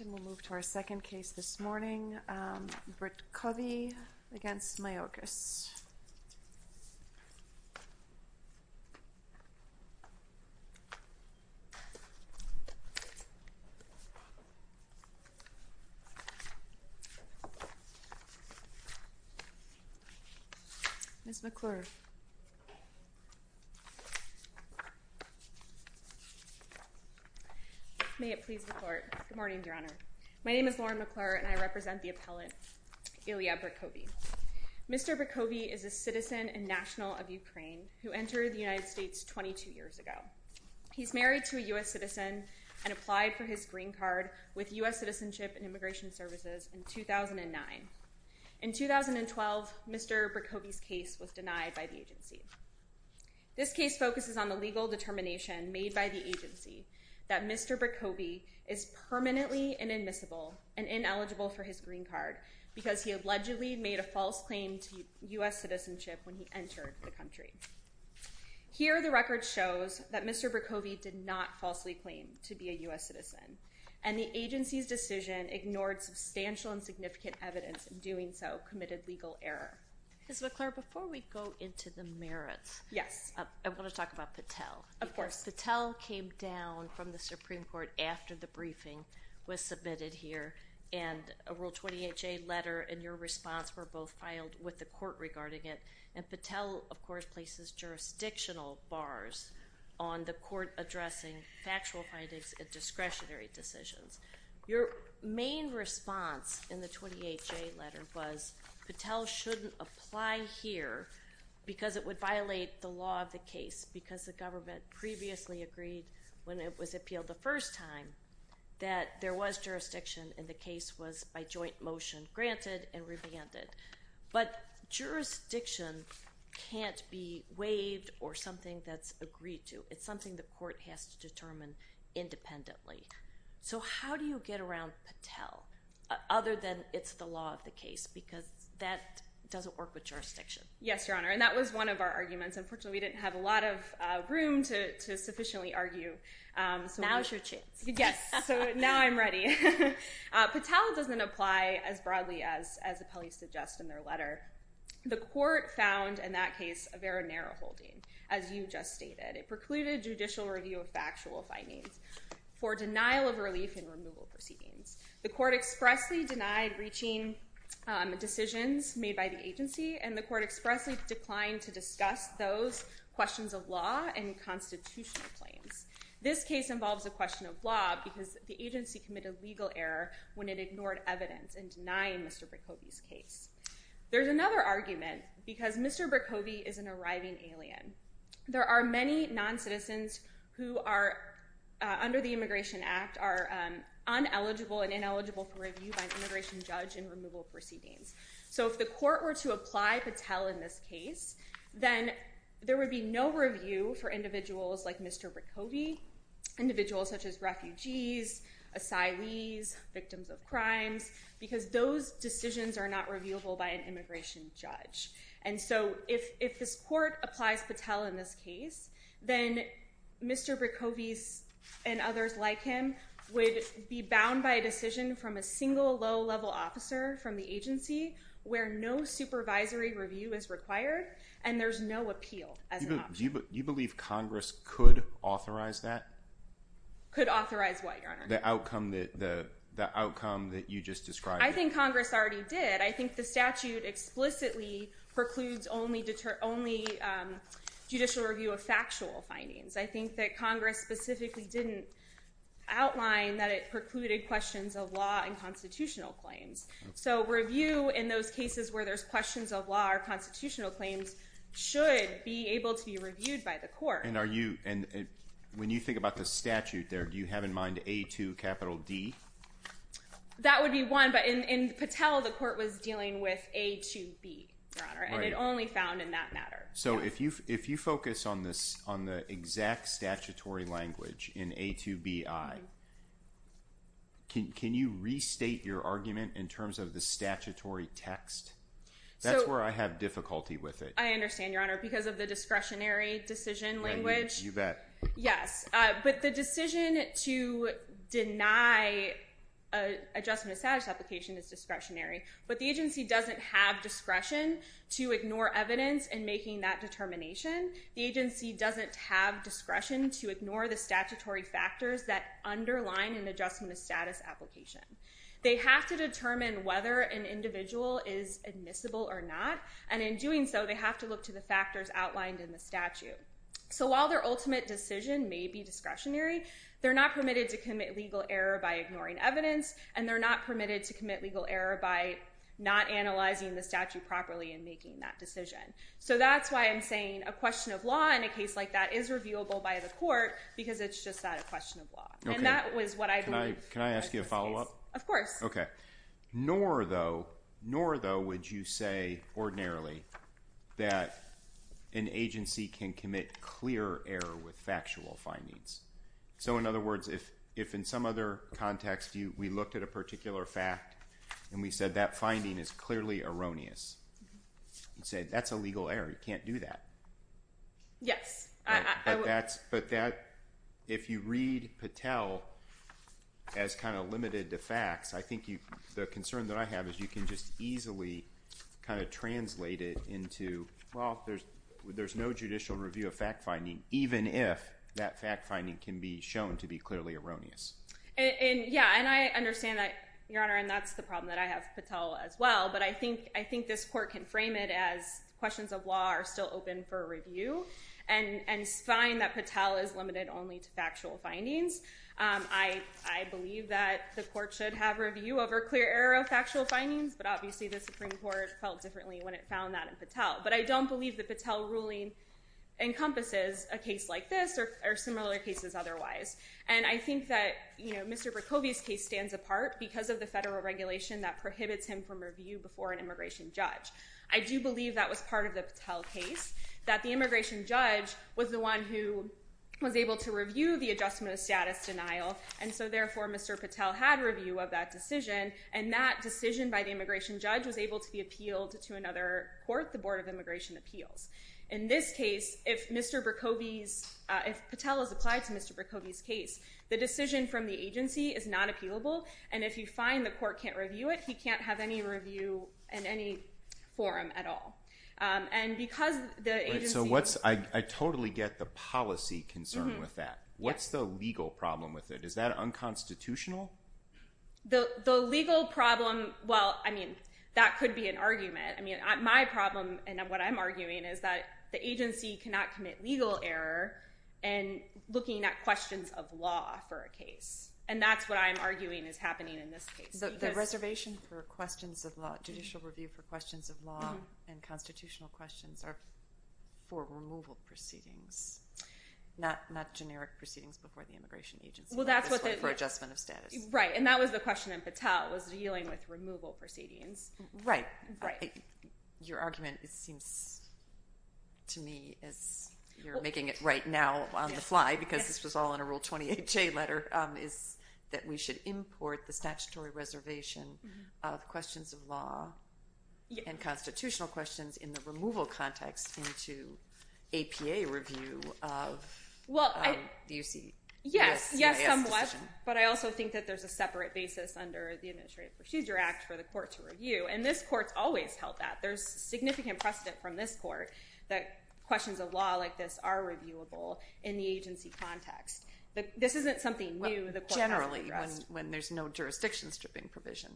And we'll move to our second case this morning, Britkovyy v. Mayorkas. Ms. McClure. May it please the court. Good morning, Your Honor. My name is Lauren McClure and I represent the appellant, Ilya Britkovyy. Mr. Britkovyy is a citizen and national of Ukraine who entered the United States 22 years ago. He's married to a U.S. citizen and applied for his green card with U.S. Citizenship and Immigration Services in 2009. In 2012, Mr. Britkovyy's case was denied by the agency. This case focuses on the legal determination made by the agency that Mr. Britkovyy is permanently inadmissible and ineligible for his green card because he allegedly made a false claim to U.S. citizenship when he entered the country. Here, the record shows that Mr. Britkovyy did not falsely claim to be a U.S. citizen and the agency's decision ignored substantial and significant evidence in doing so, committed legal error. Ms. McClure, before we go into the merits, I want to talk about Patel. Of course. Patel came down from the Supreme Court after the briefing was submitted here and a Rule 28J letter and your response were both filed with the court regarding it and Patel, of course, places jurisdictional bars on the court addressing factual findings and discretionary decisions. Your main response in the 28J letter was Patel shouldn't apply here because it would violate the law of the case because the government previously agreed when it was appealed the first time that there was jurisdiction and the case was by joint motion granted and revanded. But jurisdiction can't be waived or something that's agreed to. It's something the court has to determine independently. So how do you get around Patel other than it's the law of the case because that doesn't work with jurisdiction? Yes, Your Honor, and that was one of our arguments. Unfortunately, we didn't have a lot of room to sufficiently argue. Now's your chance. Yes, so now I'm ready. Patel doesn't apply as broadly as the police suggest in their letter. The court found in that case a very narrow holding, as you just stated. It precluded judicial review of factual findings for denial of relief in removal proceedings. The court expressly denied reaching decisions made by the agency and the court expressly declined to discuss those questions of law and constitutional claims. This case involves a question of law because the agency committed legal error when it ignored evidence in denying Mr. Brikhove's case. There's another argument because Mr. Brikhove is an arriving alien. There are many noncitizens who are, under the Immigration Act, are uneligible and ineligible for review by an immigration judge in removal proceedings. So if the court were to apply Patel in this case, then there would be no review for individuals like Mr. Brikhove, individuals such as refugees, asylees, victims of crimes, because those decisions are not reviewable by an immigration judge. And so if this court applies Patel in this case, then Mr. Brikhove and others like him would be bound by a decision from a single low-level officer from the agency where no supervisory review is required and there's no appeal as an option. Do you believe Congress could authorize that? Could authorize what, Your Honor? The outcome that you just described. I think Congress already did. I think the statute explicitly precludes only judicial review of factual findings. I think that Congress specifically didn't outline that it precluded questions of law and constitutional claims. So review in those cases where there's questions of law or constitutional claims should be able to be reviewed by the court. And when you think about the statute there, do you have in mind A to capital D? That would be one, but in Patel, the court was dealing with A to B, Your Honor, and it only found in that matter. So if you focus on the exact statutory language in A to B, I, can you restate your argument in terms of the statutory text? That's where I have difficulty with it. I understand, Your Honor, because of the discretionary decision language. You bet. Yes, but the decision to deny adjustment of status application is discretionary, but the agency doesn't have discretion to ignore evidence in making that determination. The agency doesn't have discretion to ignore the statutory factors that underline an adjustment of status application. They have to determine whether an individual is admissible or not, and in doing so they have to look to the factors outlined in the statute. So while their ultimate decision may be discretionary, they're not permitted to commit legal error by ignoring evidence, and they're not permitted to commit legal error by not analyzing the statute properly and making that decision. So that's why I'm saying a question of law in a case like that is reviewable by the court because it's just not a question of law. And that was what I believe. Can I ask you a follow-up? Of course. Okay. Nor, though, would you say ordinarily that an agency can commit clear error with factual findings. So, in other words, if in some other context we looked at a particular fact and we said that finding is clearly erroneous and said that's a legal error, you can't do that. Yes. But if you read Patel as kind of limited to facts, I think the concern that I have is you can just easily kind of translate it into, well, there's no judicial review of fact-finding even if that fact-finding can be shown to be clearly erroneous. Yeah, and I understand that, Your Honor, and that's the problem that I have with Patel as well. But I think this court can frame it as questions of law are still open for review and find that Patel is limited only to factual findings. I believe that the court should have review over clear error of factual findings, but obviously the Supreme Court felt differently when it found that in Patel. But I don't believe the Patel ruling encompasses a case like this or similar cases otherwise. And I think that, you know, Mr. Bracovia's case stands apart because of the federal regulation that prohibits him from review before an immigration judge. I do believe that was part of the Patel case, that the immigration judge was the one who was able to review the adjustment of status denial, and so therefore Mr. Patel had review of that decision, and that decision by the immigration judge was able to be appealed to another court, the Board of Immigration Appeals. In this case, if Mr. Bracovia's—if Patel is applied to Mr. Bracovia's case, the decision from the agency is not appealable, and if you find the court can't review it, he can't have any review in any forum at all. And because the agency— So what's—I totally get the policy concern with that. What's the legal problem with it? Is that unconstitutional? The legal problem—well, I mean, that could be an argument. I mean, my problem, and what I'm arguing, is that the agency cannot commit legal error in looking at questions of law for a case, and that's what I'm arguing is happening in this case. The reservation for questions of law, judicial review for questions of law, and constitutional questions are for removal proceedings, not generic proceedings before the immigration agency. Well, that's what the— For adjustment of status. Right, and that was the question in Patel, was dealing with removal proceedings. Right. Right. Your argument, it seems to me, as you're making it right now on the fly, because this was all in a Rule 28J letter, is that we should import the statutory reservation of questions of law and constitutional questions in the removal context into APA review of the U.C. Yes, yes, somewhat, but I also think that there's a separate basis under the Administrative Procedure Act for the court to review, and this court's always held that. There's significant precedent from this court that questions of law like this are reviewable in the agency context. This isn't something new the court has to address. Well, generally, when there's no jurisdiction stripping provision.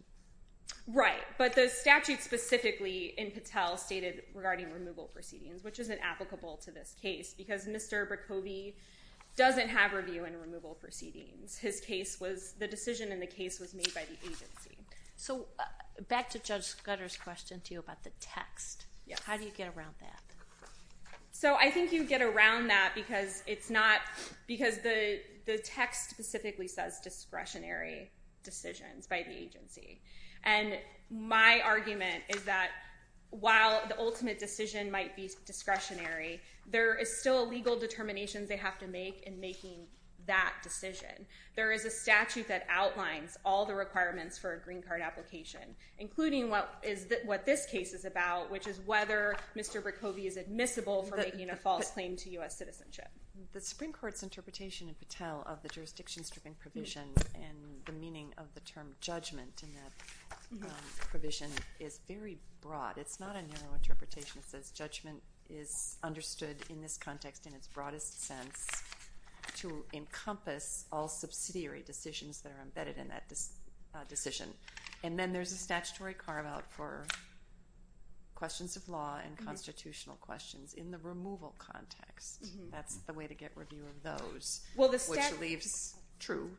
Right, but the statute specifically in Patel stated regarding removal proceedings, which isn't applicable to this case, because Mr. Brikhove doesn't have review in removal proceedings. His case was—the decision in the case was made by the agency. So back to Judge Scudder's question to you about the text. Yes. How do you get around that? So I think you get around that because it's not— because the text specifically says discretionary decisions by the agency. And my argument is that while the ultimate decision might be discretionary, there is still a legal determination they have to make in making that decision. There is a statute that outlines all the requirements for a green card application, including what this case is about, which is whether Mr. Brikhove is admissible for making a false claim to U.S. citizenship. The Supreme Court's interpretation in Patel of the jurisdiction stripping provision and the meaning of the term judgment in that provision is very broad. It's not a narrow interpretation. It says judgment is understood in this context in its broadest sense to encompass all subsidiary decisions that are embedded in that decision. And then there's a statutory carve-out for questions of law and constitutional questions in the removal context. That's the way to get review of those, which leaves true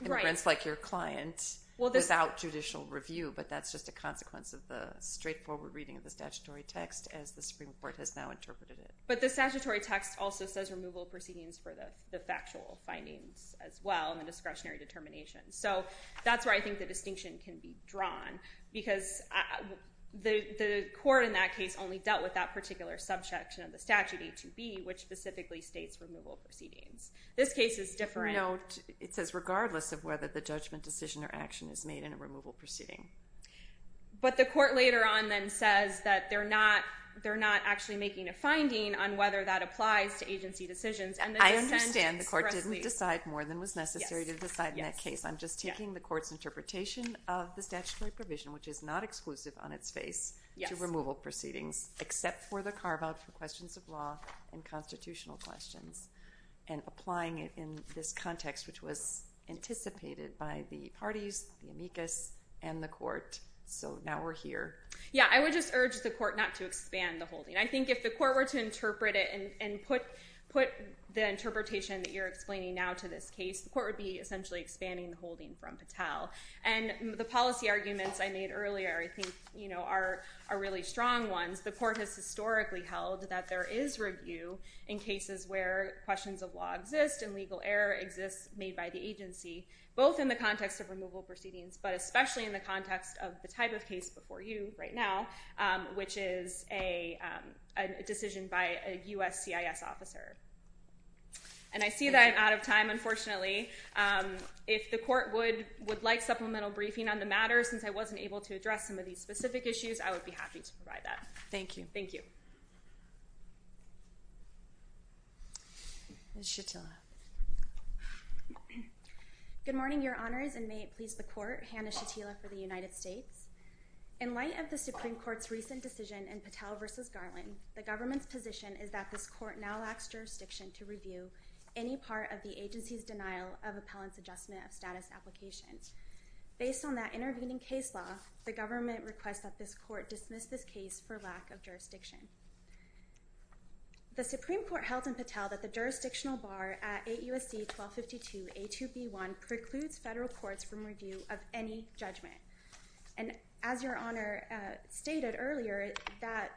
inference like your client without judicial review, but that's just a consequence of the straightforward reading of the statutory text as the Supreme Court has now interpreted it. But the statutory text also says removal proceedings for the factual findings as well and the discretionary determination. So that's where I think the distinction can be drawn because the court in that case only dealt with that particular subsection of the statute, A2B, which specifically states removal proceedings. This case is different. No, it says regardless of whether the judgment decision or action is made in a removal proceeding. But the court later on then says that they're not actually making a finding on whether that applies to agency decisions. I understand the court didn't decide more than was necessary to decide in that case. I'm just taking the court's interpretation of the statutory provision, which is not exclusive on its face to removal proceedings, except for the carve-out for questions of law and constitutional questions and applying it in this context, which was anticipated by the parties, the amicus, and the court. So now we're here. Yeah, I would just urge the court not to expand the holding. I think if the court were to interpret it and put the interpretation that you're explaining now to this case, the court would be essentially expanding the holding from Patel. And the policy arguments I made earlier I think are really strong ones. The court has historically held that there is review in cases where questions of law exist and legal error exists made by the agency, both in the context of removal proceedings, but especially in the context of the type of case before you right now, which is a decision by a U.S. CIS officer. And I see that I'm out of time, unfortunately. If the court would like supplemental briefing on the matter, since I wasn't able to address some of these specific issues, I would be happy to provide that. Thank you. Thank you. Ms. Shatila. Good morning, Your Honors, and may it please the court, Hannah Shatila for the United States. In light of the Supreme Court's recent decision in Patel v. Garland, the government's position is that this court now lacks jurisdiction to review any part of the agency's denial of appellant's adjustment of status applications. Based on that intervening case law, the government requests that this court dismiss this case for lack of jurisdiction. The Supreme Court held in Patel that the jurisdictional bar at 8 U.S.C. 1252, A2B1, precludes federal courts from review of any judgment. And as Your Honor stated earlier, that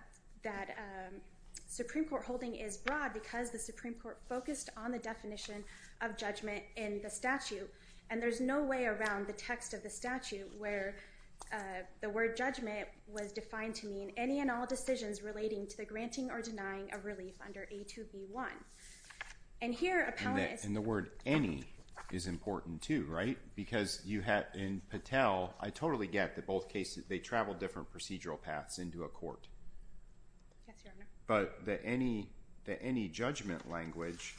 Supreme Court holding is broad because the Supreme Court focused on the definition of judgment in the statute. And there's no way around the text of the statute where the word judgment was defined to mean any and all decisions relating to the granting or denying of relief under A2B1. And here, appellant is... And the word any is important, too, right? Because in Patel, I totally get that both cases, they travel different procedural paths into a court. Yes, Your Honor. But the any judgment language,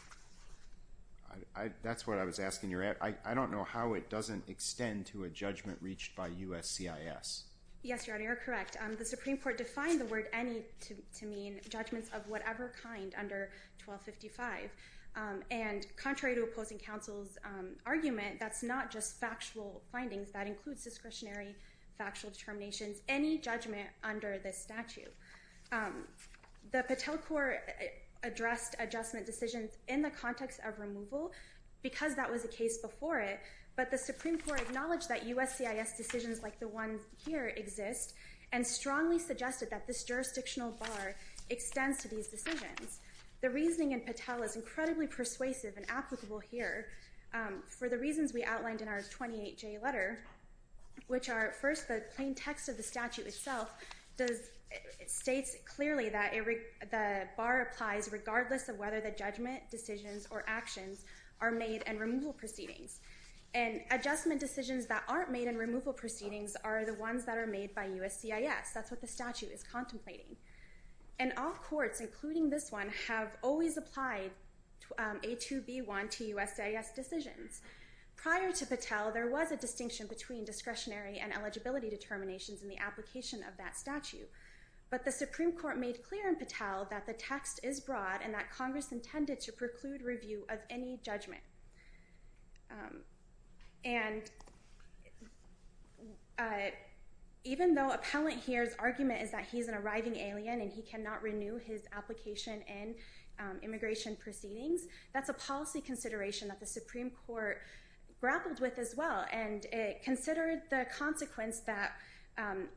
that's what I was asking. I don't know how it doesn't extend to a judgment reached by U.S.C.I.S. Yes, Your Honor, you're correct. The Supreme Court defined the word any to mean judgments of whatever kind under 1255. And contrary to opposing counsel's argument, that's not just factual findings. That includes discretionary factual determinations, any judgment under this statute. The Patel court addressed adjustment decisions in the context of removal because that was the case before it. But the Supreme Court acknowledged that U.S.C.I.S. decisions like the one here exist and strongly suggested that this jurisdictional bar extends to these decisions. The reasoning in Patel is incredibly persuasive and applicable here for the reasons we outlined in our 28J letter, which are, first, the plain text of the statute itself states clearly that the bar applies regardless of whether the judgment decisions or actions are made in removal proceedings. And adjustment decisions that aren't made in removal proceedings are the ones that are made by U.S.C.I.S. That's what the statute is contemplating. And all courts, including this one, have always applied A2B1 to U.S.C.I.S. decisions. Prior to Patel, there was a distinction between discretionary and eligibility determinations in the application of that statute. But the Supreme Court made clear in Patel that the text is broad and that Congress intended to preclude review of any judgment. And even though appellant here's argument is that he's an arriving alien and he cannot renew his application in immigration proceedings, that's a policy consideration that the Supreme Court grappled with as well. And it considered the consequence that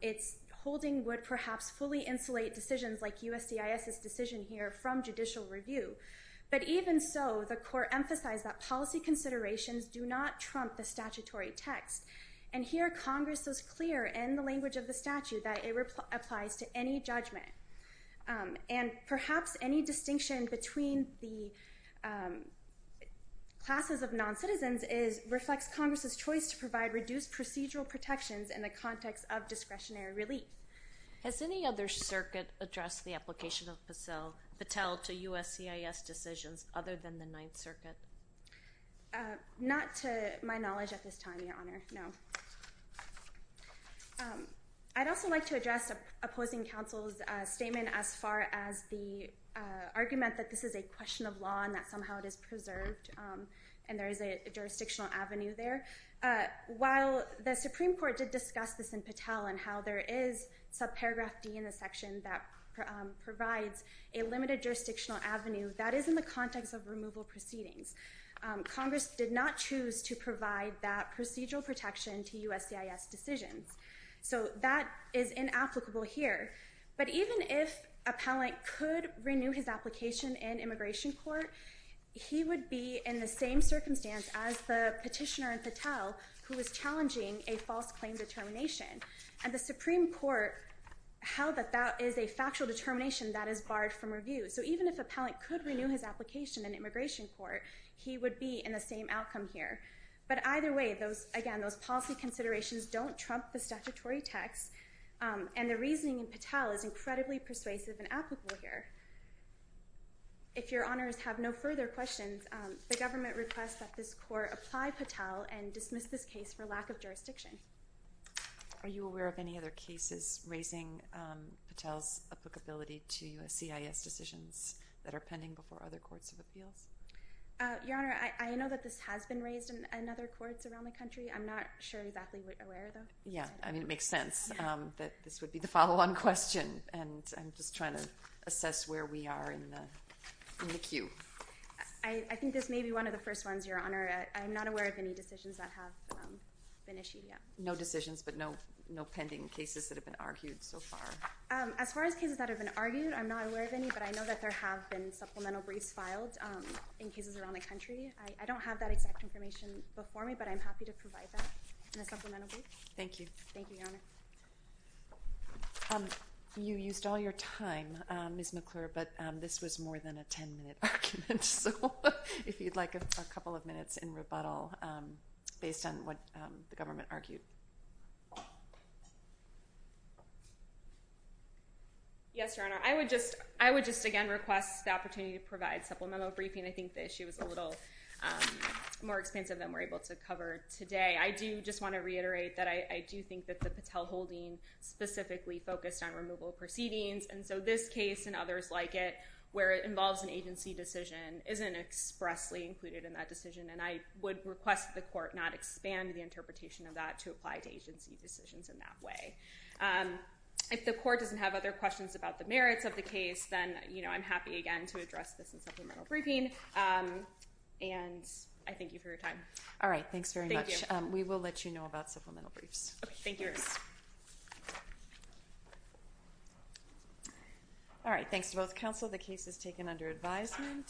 its holding would perhaps fully insulate decisions like U.S.C.I.S.'s decision here from judicial review. But even so, the court emphasized that policy considerations do not trump the statutory text. And here, Congress is clear in the language of the statute that it applies to any judgment. And perhaps any distinction between the classes of non-citizens reflects Congress' choice to provide reduced procedural protections in the context of discretionary relief. Has any other circuit addressed the application of Patel to U.S.C.I.S. decisions other than the Ninth Circuit? Not to my knowledge at this time, Your Honor. No. I'd also like to address opposing counsel's statement as far as the argument that this is a question of law and that somehow it is preserved and there is a jurisdictional avenue there. While the Supreme Court did discuss this in Patel and how there is subparagraph D in the section that provides a limited jurisdictional avenue that is in the context of removal proceedings. Congress did not choose to provide that procedural protection to U.S.C.I.S. decisions. So that is inapplicable here. But even if appellant could renew his application in immigration court, he would be in the same circumstance as the petitioner in Patel who is challenging a false claim determination. And the Supreme Court held that that is a factual determination that is barred from review. So even if appellant could renew his application in immigration court, he would be in the same outcome here. But either way, again, those policy considerations don't trump the statutory text and the reasoning in Patel is incredibly persuasive and applicable here. If your honors have no further questions, the government requests that this court apply Patel and dismiss this case for lack of jurisdiction. Are you aware of any other cases raising Patel's applicability to U.S.C.I.S. decisions that are pending before other courts of appeals? Your Honor, I know that this has been raised in other courts around the country. I'm not sure exactly where though. Yeah. I mean, it makes sense that this would be the follow-on question. And I'm just trying to assess where we are in the queue. I think this may be one of the first ones, Your Honor. I'm not aware of any decisions that have been issued yet. No decisions, but no pending cases that have been argued so far. As far as cases that have been argued, I'm not aware of any, but I know that there have been supplemental briefs filed in cases around the country. I don't have that exact information before me, but I'm happy to provide that in a supplemental brief. Thank you. Thank you, Your Honor. You used all your time, Ms. McClure, but this was more than a 10-minute argument. So if you'd like a couple of minutes in rebuttal based on what the government argued. Yes, Your Honor. I would just again request the opportunity to provide supplemental briefing. I think the issue was a little more expansive than we're able to cover today. I do just want to reiterate that I do think that the Patel holding specifically focused on removal proceedings. And so this case and others like it, where it involves an agency decision isn't expressly included in that decision. And I would request that the court not expand the interpretation of that to apply to agency decisions in that way. If the court doesn't have other questions about the merits of the case, then I'm happy again to address this in supplemental briefing. And I thank you for your time. All right. Thanks very much. We will let you know about supplemental briefs. Okay. Thank you, Your Honor. All right. Thanks to both counsel. The case is taken under advisement.